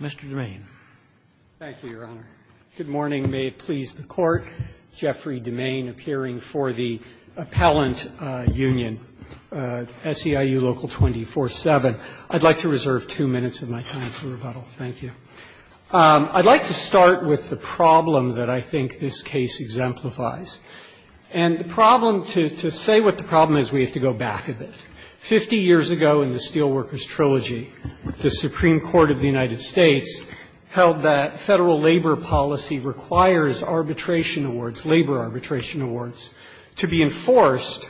Mr. DeMaine. Thank you, Your Honor. Good morning. May it please the Court. Jeffrey DeMaine, appearing for the Appellant Union, SEIU Local 247. I'd like to reserve two minutes of my time for rebuttal. Thank you. I'd like to start with the problem that I think this case exemplifies. And the problem, to say what the problem is, we have to go back a bit. Fifty years ago in the Steelworkers Trilogy, the Supreme Court of the United States held that federal labor policy requires arbitration awards, labor arbitration awards, to be enforced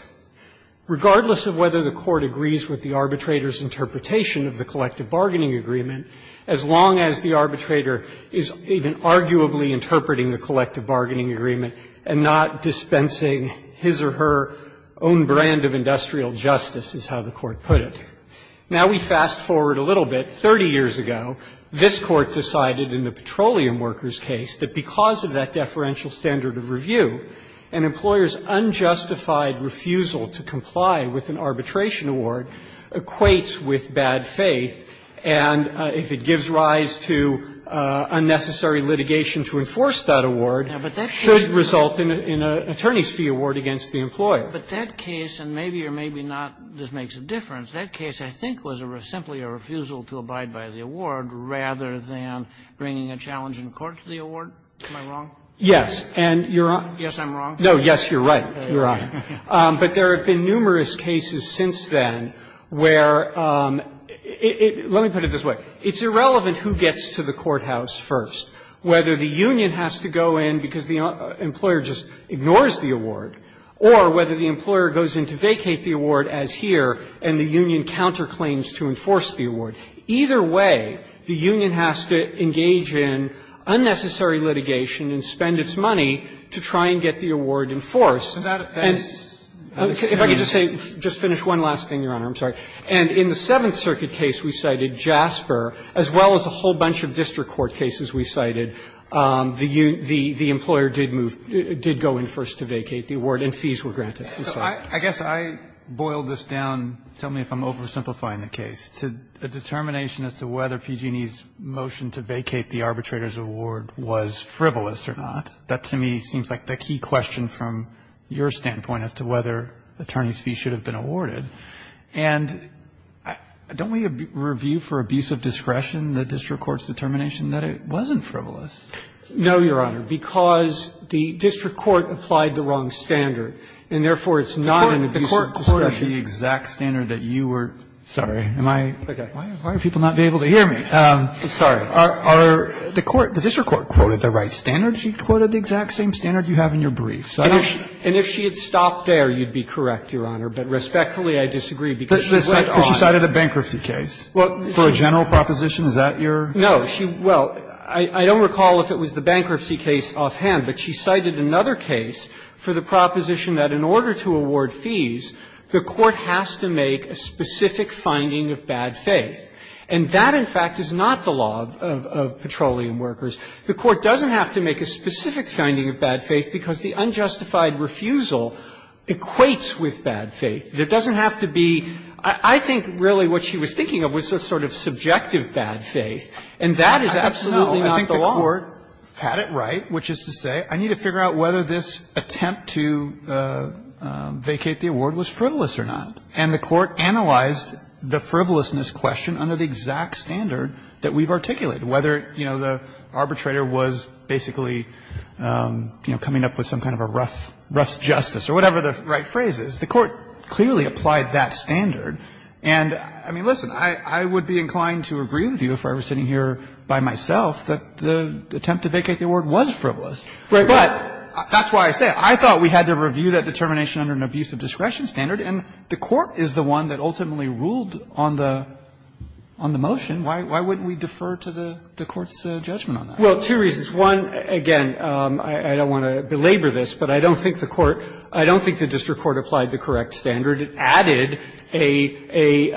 regardless of whether the court agrees with the arbitrator's interpretation of the collective bargaining agreement, as long as the arbitrator is even arguably interpreting the collective bargaining agreement and not dispensing his or her own brand of industrial justice, is how the court put it. Now we fast forward a little bit. Thirty years ago, this Court decided in the Petroleum Workers case that because of that deferential standard of review, an employer's unjustified refusal to comply with an arbitration award equates with bad faith, and if it gives rise to unnecessary litigation to enforce that award, it should result in an attorney's fee award against the employer. But that case, and maybe or maybe not this makes a difference, that case I think was simply a refusal to abide by the award rather than bringing a challenge in court to the award. Am I wrong? Yes. And you're on. Yes, I'm wrong. No, yes, you're right. You're on. But there have been numerous cases since then where it – let me put it this way. It's irrelevant who gets to the courthouse first. Whether the union has to go in because the employer just ignores the award, or whether the employer goes in to vacate the award, as here, and the union counterclaims to enforce the award. Either way, the union has to engage in unnecessary litigation and spend its money to try and get the award enforced. And if I could just say – just finish one last thing, Your Honor, I'm sorry. And in the Seventh Circuit case we cited JASPER, as well as a whole bunch of district court cases we cited, the employer did move – did go in first to vacate the award and fees were granted. I'm sorry. I guess I boiled this down – tell me if I'm oversimplifying the case – to a determination as to whether PG&E's motion to vacate the arbitrator's award was frivolous or not. That, to me, seems like the key question from your standpoint as to whether attorneys' fees should have been awarded. And don't we review for abusive discretion the district court's determination that it wasn't frivolous? No, Your Honor, because the district court applied the wrong standard, and therefore it's not an abusive discretion. The court quoted the exact standard that you were – sorry, am I – why are people not able to hear me? Sorry. Are the court – the district court quoted the right standard? She quoted the exact same standard you have in your brief, so I don't know. And if she had stopped there, you'd be correct, Your Honor. But respectfully, I disagree, because she went on. But she cited a bankruptcy case for a general proposition. Is that your? No. She – well, I don't recall if it was the bankruptcy case offhand, but she cited another case for the proposition that in order to award fees, the court has to make a specific finding of bad faith. And that, in fact, is not the law of petroleum workers. The court doesn't have to make a specific finding of bad faith because the unjustified refusal equates with bad faith. It doesn't have to be – I think really what she was thinking of was a sort of subjective bad faith, and that is absolutely not the law. No. I think the court had it right, which is to say, I need to figure out whether this attempt to vacate the award was frivolous or not. And the court analyzed the frivolousness question under the exact standard that we've articulated, whether, you know, the arbitrator was basically, you know, coming up with some kind of a rough justice or whatever the right phrase is. The court clearly applied that standard. And, I mean, listen, I would be inclined to agree with you if I were sitting here by myself that the attempt to vacate the award was frivolous. Right. But that's why I say it. I thought we had to review that determination under an abuse of discretion standard, and the court is the one that ultimately ruled on the motion. Why wouldn't we defer to the court's judgment on that? Well, two reasons. One, again, I don't want to belabor this, but I don't think the court – I don't think the district court applied the correct standard. It added a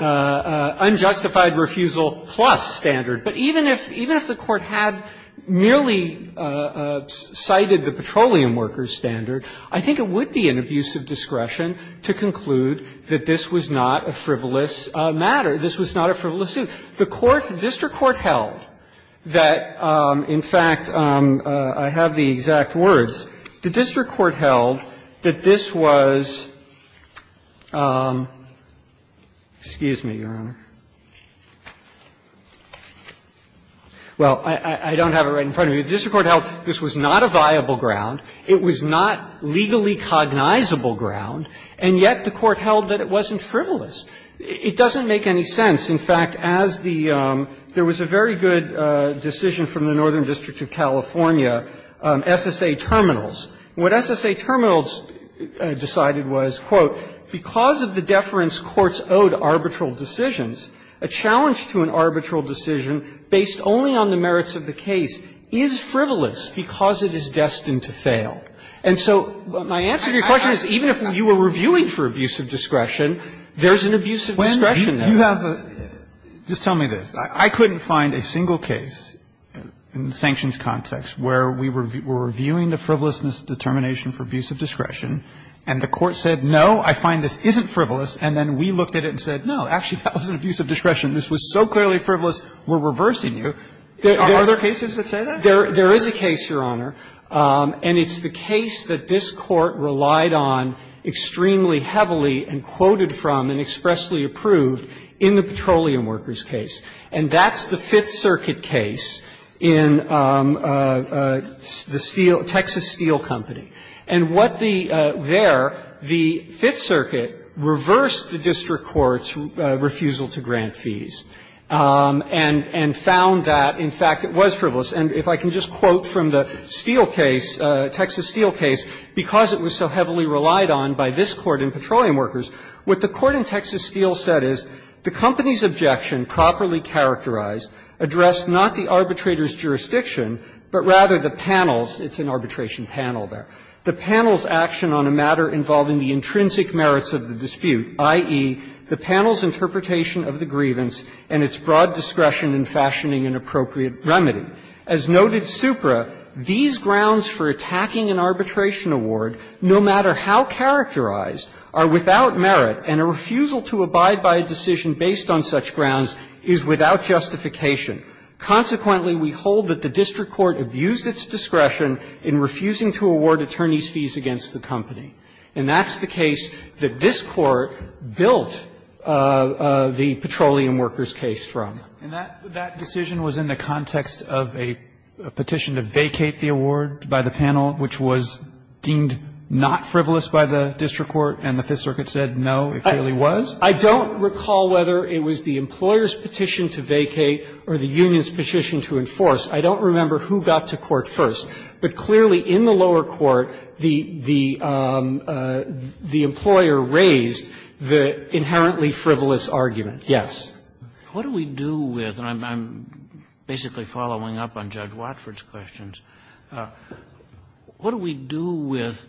unjustified refusal plus standard. But even if the court had merely cited the petroleum workers standard, I think it would be an abuse of discretion to conclude that this was not a frivolous matter, this was not a frivolous suit. The court – the district court held that, in fact, I have the exact words. The district court held that this was – excuse me, Your Honor. Well, I don't have it right in front of me. The district court held this was not a viable ground, it was not legally cognizable ground, and yet the court held that it wasn't frivolous. It doesn't make any sense. In fact, as the – there was a very good decision from the Northern District of California, SSA Terminals. What SSA Terminals decided was, quote, ''Because of the deference courts owed arbitral decisions, a challenge to an arbitral decision based only on the merits of the case is frivolous because it is destined to fail.'' And so my answer to your question is even if you were reviewing for abuse of discretion, there's an abuse of discretion there. But if you have a – just tell me this. I couldn't find a single case in the sanctions context where we were reviewing the frivolousness determination for abuse of discretion, and the court said, no, I find this isn't frivolous, and then we looked at it and said, no, actually, that was an abuse of discretion, this was so clearly frivolous, we're reversing you. Are there cases that say that? There is a case, Your Honor, and it's the case that this Court relied on extremely heavily and quoted from and expressly approved in the Petroleum Workers case. And that's the Fifth Circuit case in the steel – Texas Steel Company. And what the – there, the Fifth Circuit reversed the district court's refusal to grant fees and found that, in fact, it was frivolous. And if I can just quote from the steel case, Texas Steel case, because it was so heavily relied on by this Court in Petroleum Workers, what the court in Texas Steel said is, the company's objection properly characterized addressed not the arbitrator's jurisdiction, but rather the panel's – it's an arbitration panel there – the panel's action on a matter involving the intrinsic merits of the dispute, i.e., the panel's interpretation of the grievance and its broad discretion in fashioning an appropriate remedy. As noted supra, these grounds for attacking an arbitration award, no matter how characterized, are without merit, and a refusal to abide by a decision based on such grounds is without justification. Consequently, we hold that the district court abused its discretion in refusing to award attorneys' fees against the company. And that's the case that this Court built the Petroleum Workers case from. And that decision was in the context of a petition to vacate the award by the panel, which was deemed not frivolous by the district court, and the Fifth Circuit said, no, it clearly was? I don't recall whether it was the employer's petition to vacate or the union's petition to enforce. I don't remember who got to court first. But clearly, in the lower court, the employer raised the inherently frivolous argument, yes. Kennedy, what do we do with the standard? And I'm basically following up on Judge Watford's questions. What do we do with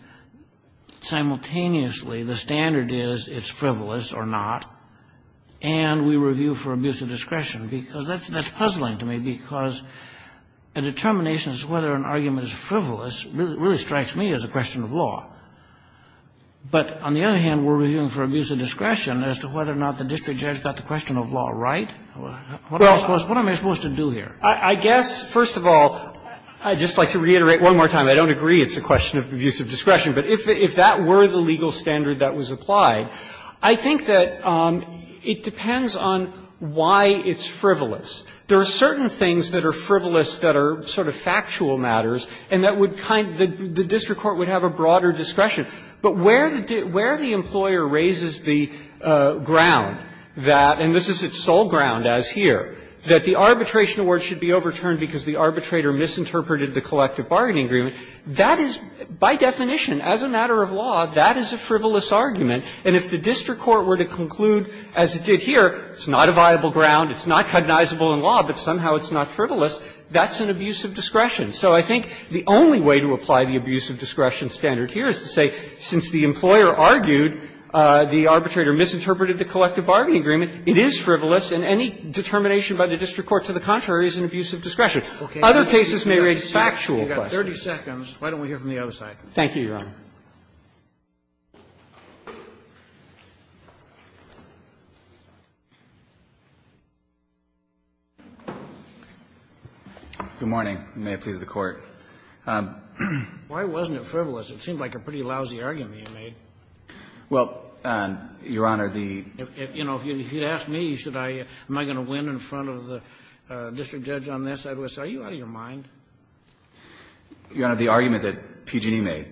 simultaneously the standard is it's frivolous or not, and we review for abuse of discretion? Because that's puzzling to me, because a determination as to whether an argument is frivolous really strikes me as a question of law. But on the other hand, we're reviewing for abuse of discretion as to whether or not the district judge got the question of law right. What am I supposed to do here? I guess, first of all, I'd just like to reiterate one more time. I don't agree it's a question of abuse of discretion. But if that were the legal standard that was applied, I think that it depends on why it's frivolous. There are certain things that are frivolous that are sort of factual matters, and that would kind of the district court would have a broader discretion. But where the employer raises the ground that, and this is its sole ground as here, that the arbitration award should be overturned because the arbitrator misinterpreted the collective bargaining agreement, that is, by definition, as a matter of law, that is a frivolous argument. And if the district court were to conclude, as it did here, it's not a viable ground, it's not cognizable in law, but somehow it's not frivolous, that's an abuse of discretion. So I think the only way to apply the abuse of discretion standard here is to say, since the employer argued the arbitrator misinterpreted the collective bargaining agreement, it is frivolous, and any determination by the district court to the contrary is an abuse of discretion. Other cases may raise factual questions. Roberts. Thank you, Your Honor. Good morning. May it please the Court. Why wasn't it frivolous? It seemed like a pretty lousy argument you made. Well, Your Honor, the You know, if you'd asked me, should I, am I going to win in front of the district judge on this, I would say, are you out of your mind? Your Honor, the argument that PG&E made,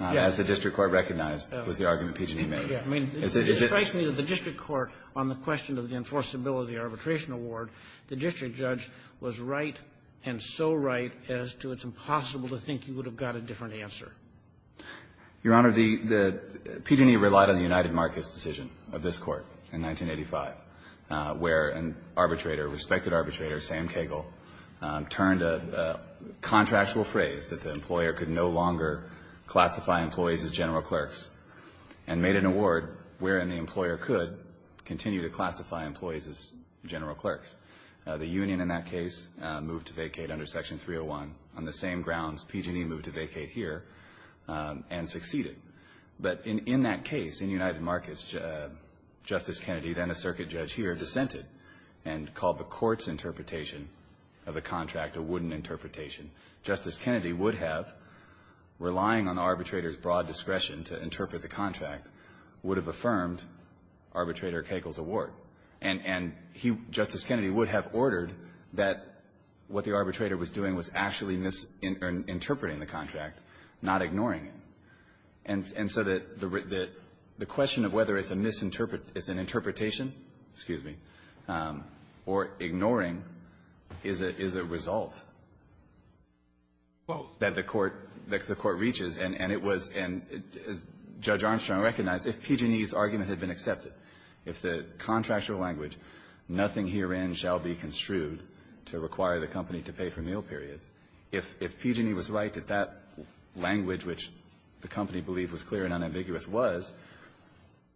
as the district court recognized, was the argument PG&E made. I mean, it strikes me that the district court, on the question of the enforceability arbitration award, the district judge was right and so right as to it's impossible to think you would have got a different answer. Your Honor, the PG&E relied on the United Marcus decision of this Court in 1985, where an arbitrator, respected arbitrator, Sam Kagle, turned a contractual phrase that the employer could no longer classify employees as general clerks and made an award wherein the employer could continue to classify employees as general clerks. The union in that case moved to vacate under Section 301 on the same grounds PG&E moved to vacate here and succeeded. But in that case, in United Marcus, Justice Kennedy, then a circuit judge here, dissented and called the court's interpretation of the contract a wooden interpretation. Justice Kennedy would have, relying on the arbitrator's broad discretion to interpret the contract, would have affirmed Arbitrator Kagle's award. And he, Justice Kennedy, would have ordered that what the arbitrator was doing was actually interpreting the contract, not ignoring it. And so that the question of whether it's a misinterpretation, excuse me, or ignoring is a result that the court reaches. And it was as Judge Armstrong recognized, if PG&E's argument had been accepted, if the contractual language, nothing herein shall be construed to require the company to pay for meal periods, if PG&E was right, that that language which the company believed was clear and unambiguous was,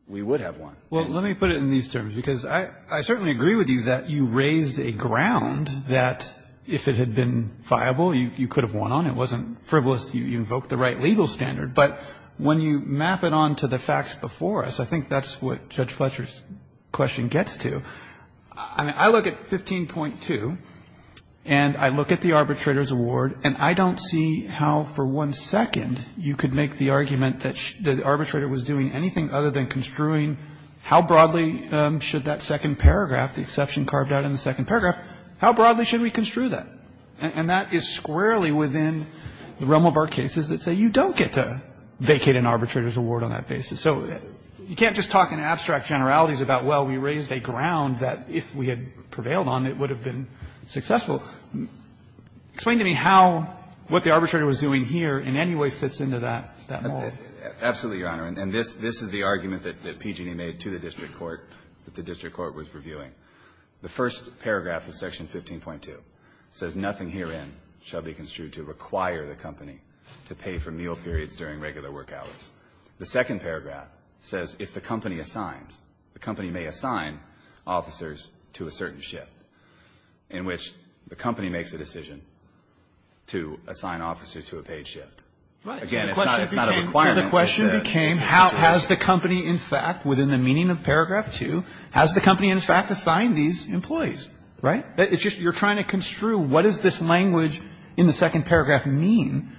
we would have won. Well, let me put it in these terms, because I certainly agree with you that you raised a ground that if it had been viable, you could have won on. It wasn't frivolous. You invoked the right legal standard. But when you map it on to the facts before us, I think that's what Judge Fletcher's question gets to. I mean, I look at 15.2, and I look at the arbitrator's award, and I don't see how for one second you could make the argument that the arbitrator was doing anything other than construing how broadly should that second paragraph, the exception carved out in the second paragraph, how broadly should we construe that? And that is squarely within the realm of our cases that say you don't get to vacate an arbitrator's award on that basis. So you can't just talk in abstract generalities about, well, we raised a ground that if we had prevailed on, it would have been successful. Explain to me how what the arbitrator was doing here in any way fits into that model. Absolutely, Your Honor. And this is the argument that PG&E made to the district court, that the district court was reviewing. The first paragraph of Section 15.2 says nothing herein shall be construed to require the company to pay for meal periods during regular work hours. The second paragraph says if the company assigns, the company may assign officers to a certain shift. In which the company makes a decision to assign officers to a paid shift. Again, it's not a requirement. So the question became how has the company in fact, within the meaning of Paragraph 2, has the company in fact assigned these employees? Right? It's just you're trying to construe what does this language in the second paragraph mean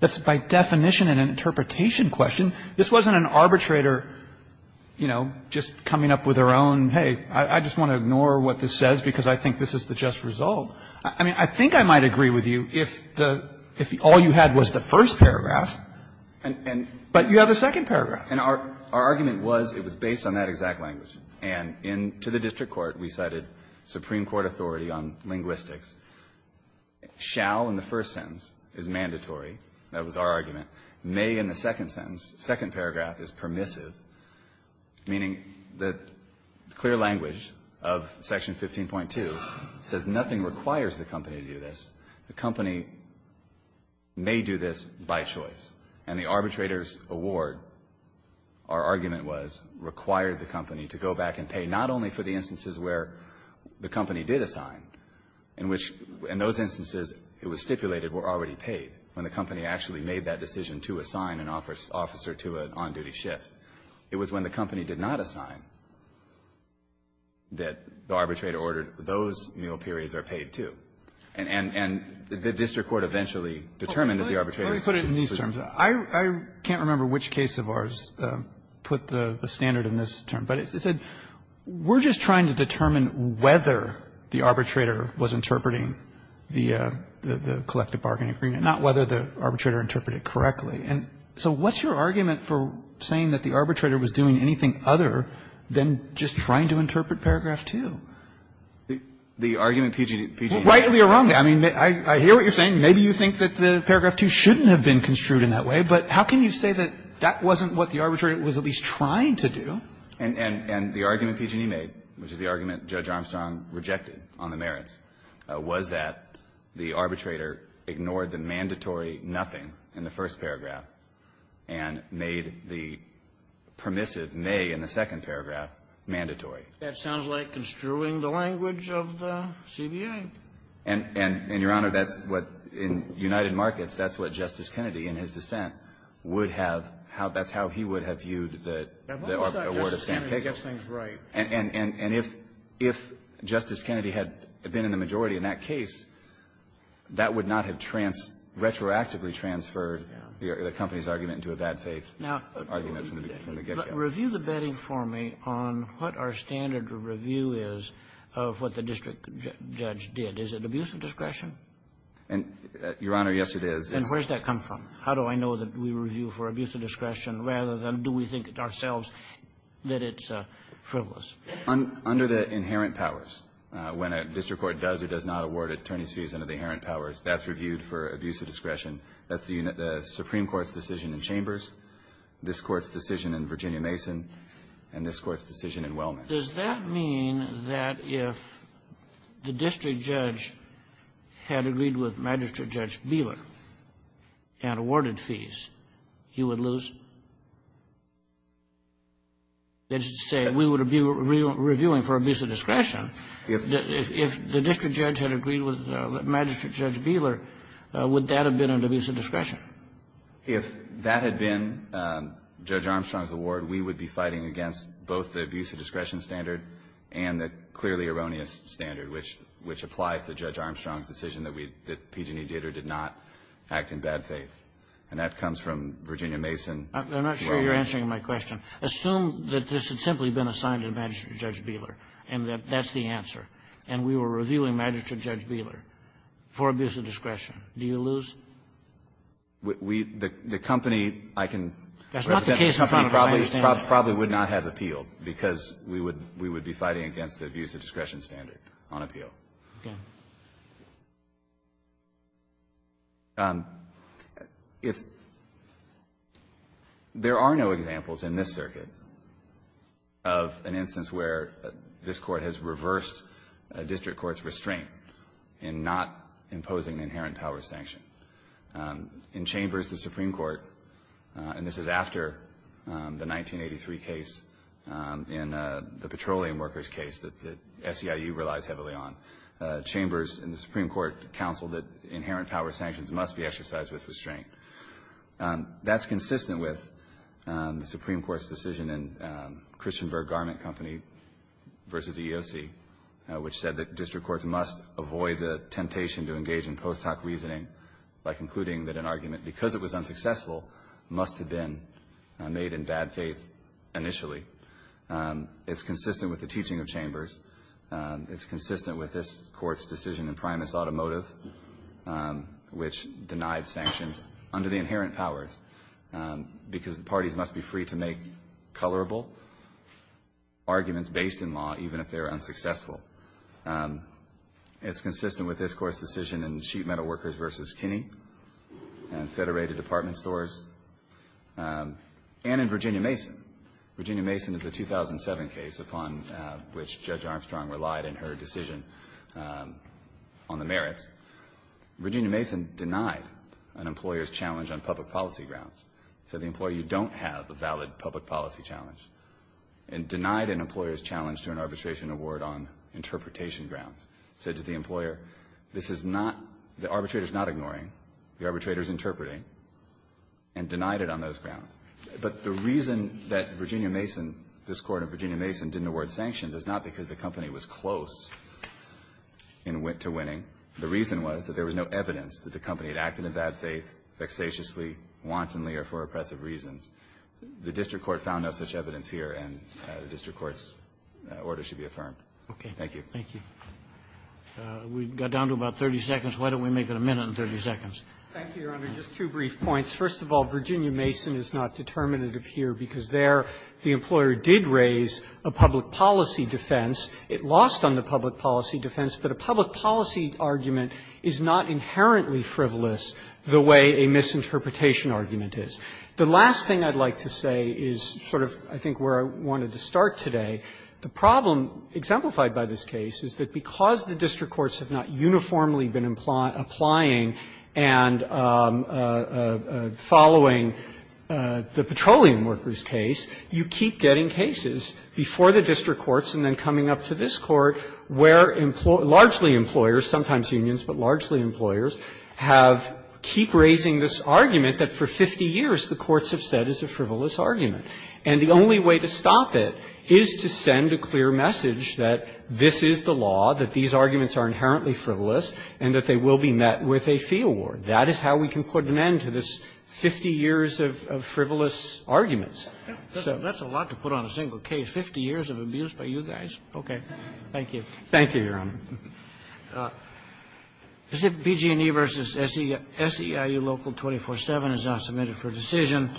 that's by definition an interpretation question. This wasn't an arbitrator, you know, just coming up with their own, hey, I just want to ignore what this says because I think this is the just result. I mean, I think I might agree with you if the, if all you had was the first paragraph, but you have a second paragraph. And our argument was it was based on that exact language. And in, to the district court, we cited Supreme Court authority on linguistics. Shall in the first sentence is mandatory. That was our argument. May in the second sentence, second paragraph is permissive. Meaning that clear language of Section 15.2 says nothing requires the company to do this. The company may do this by choice. And the arbitrator's award, our argument was, required the company to go back and pay not only for the instances where the company did assign, in which, in those instances it was stipulated were already paid when the company actually made that decision to assign an officer to an on-duty shift. It was when the company did not assign that the arbitrator ordered those meal periods are paid too. And, and, and the district court eventually determined that the arbitrator's. Let me put it in these terms. I, I can't remember which case of ours put the standard in this term. But it said, we're just trying to determine whether the arbitrator was interpreting the, the collective bargaining agreement. Not whether the arbitrator interpreted it correctly. And so what's your argument for saying that the arbitrator was doing anything other than just trying to interpret paragraph 2? The argument PG&E, PG&E. Rightly or wrongly. I mean, I, I hear what you're saying. Maybe you think that the paragraph 2 shouldn't have been construed in that way. But how can you say that that wasn't what the arbitrator was at least trying to do? And, and, and the argument PG&E made, which is the argument Judge Armstrong rejected on the merits, was that the arbitrator ignored the mandatory nothing in the first paragraph and made the permissive may in the second paragraph mandatory. That sounds like construing the language of the CBA. And, and, and, Your Honor, that's what, in United Markets, that's what Justice Kennedy, in his dissent, would have, how, that's how he would have viewed the, the award of St. Pickles. And, and, and, and if, if Justice Kennedy had been in the majority in that case, that would not have trans, retroactively transferred the, the company's argument into a bad faith argument from the, from the get-go. Now, review the betting for me on what our standard review is of what the district judge did. Is it abuse of discretion? And, Your Honor, yes, it is. And where's that come from? How do I know that we review for abuse of discretion rather than do we think ourselves that it's frivolous? Under the inherent powers. When a district court does or does not award attorneys' fees under the inherent powers, that's reviewed for abuse of discretion. That's the Supreme Court's decision in Chambers, this Court's decision in Virginia Mason, and this Court's decision in Wellman. Does that mean that if the district judge had agreed with Magistrate Judge Bieler and awarded fees, he would lose? That is to say, we would be reviewing for abuse of discretion if, if, if the district judge had agreed with Magistrate Judge Bieler, would that have been an abuse of discretion? If that had been Judge Armstrong's award, we would be fighting against both the abuse of discretion standard and the clearly erroneous standard, which, which applies to Judge Armstrong's decision that we, that PG&E did or did not act in bad faith. I'm not sure you're answering my question. Assume that this had simply been assigned to Magistrate Judge Bieler and that that's the answer, and we were reviewing Magistrate Judge Bieler for abuse of discretion. Do you lose? We, the company, I can represent the company probably, probably would not have appealed because we would, we would be fighting against the abuse of discretion standard on appeal. Okay. If there are no examples in this circuit of an instance where this Court has reversed a district court's restraint in not imposing inherent power sanction. In Chambers, the Supreme Court, and this is after the 1983 case in the Petroleum Workers case that, that SEIU relies heavily on, Chambers and the Supreme Court counseled that inherent power sanctions must be exercised with restraint. That's consistent with the Supreme Court's decision in Christian Berg Garment Company versus EEOC, which said that district courts must avoid the temptation to engage in post hoc reasoning by concluding that an argument, because it was unsuccessful, must have been made in bad faith initially. It's consistent with the teaching of Chambers. It's consistent with this Court's decision in Primus Automotive, which denied sanctions under the inherent powers, because the parties must be free to make colorable arguments based in law, even if they are unsuccessful. It's consistent with this Court's decision in Sheet Metal Workers versus Kinney and Federated Department Stores, and in Virginia Mason. Virginia Mason is a 2007 case upon which Judge Armstrong relied in her decision on the merits. Virginia Mason denied an employer's challenge on public policy grounds. Said the employer, you don't have a valid public policy challenge. And denied an employer's challenge to an arbitration award on interpretation grounds. Said to the employer, this is not, the arbitrator's not ignoring, the arbitrator's interpreting, and denied it on those grounds. But the reason that Virginia Mason, this Court in Virginia Mason, didn't award sanctions is not because the company was close to winning. The reason was that there was no evidence that the company had acted in bad faith vexatiously, wantonly, or for oppressive reasons. The district court found no such evidence here, and the district court's order should be affirmed. Thank you. Robertson, We got down to about 30 seconds. Why don't we make it a minute and 30 seconds? Thank you, Your Honor. Just two brief points. First of all, Virginia Mason is not determinative here because there the employer did raise a public policy defense. It lost on the public policy defense, but a public policy argument is not inherently frivolous the way a misinterpretation argument is. The last thing I'd like to say is sort of, I think, where I wanted to start today. The problem exemplified by this case is that because the district courts have not uniformly been applying and following the petroleum workers' case, you keep getting cases before the district courts and then coming up to this Court where largely employers, sometimes unions, but largely employers, have keep raising this argument that for 50 years the courts have said it's a frivolous argument. And the only way to stop it is to send a clear message that this is the law, that these arguments are inherently frivolous, and that they will be met with a fee award. That is how we can put an end to this 50 years of frivolous arguments. So that's a lot to put on a single case, 50 years of abuse by you guys. Okay. Thank you. Thank you, Your Honor. BG&E v. SEIU Local 24-7 is now submitted for decision.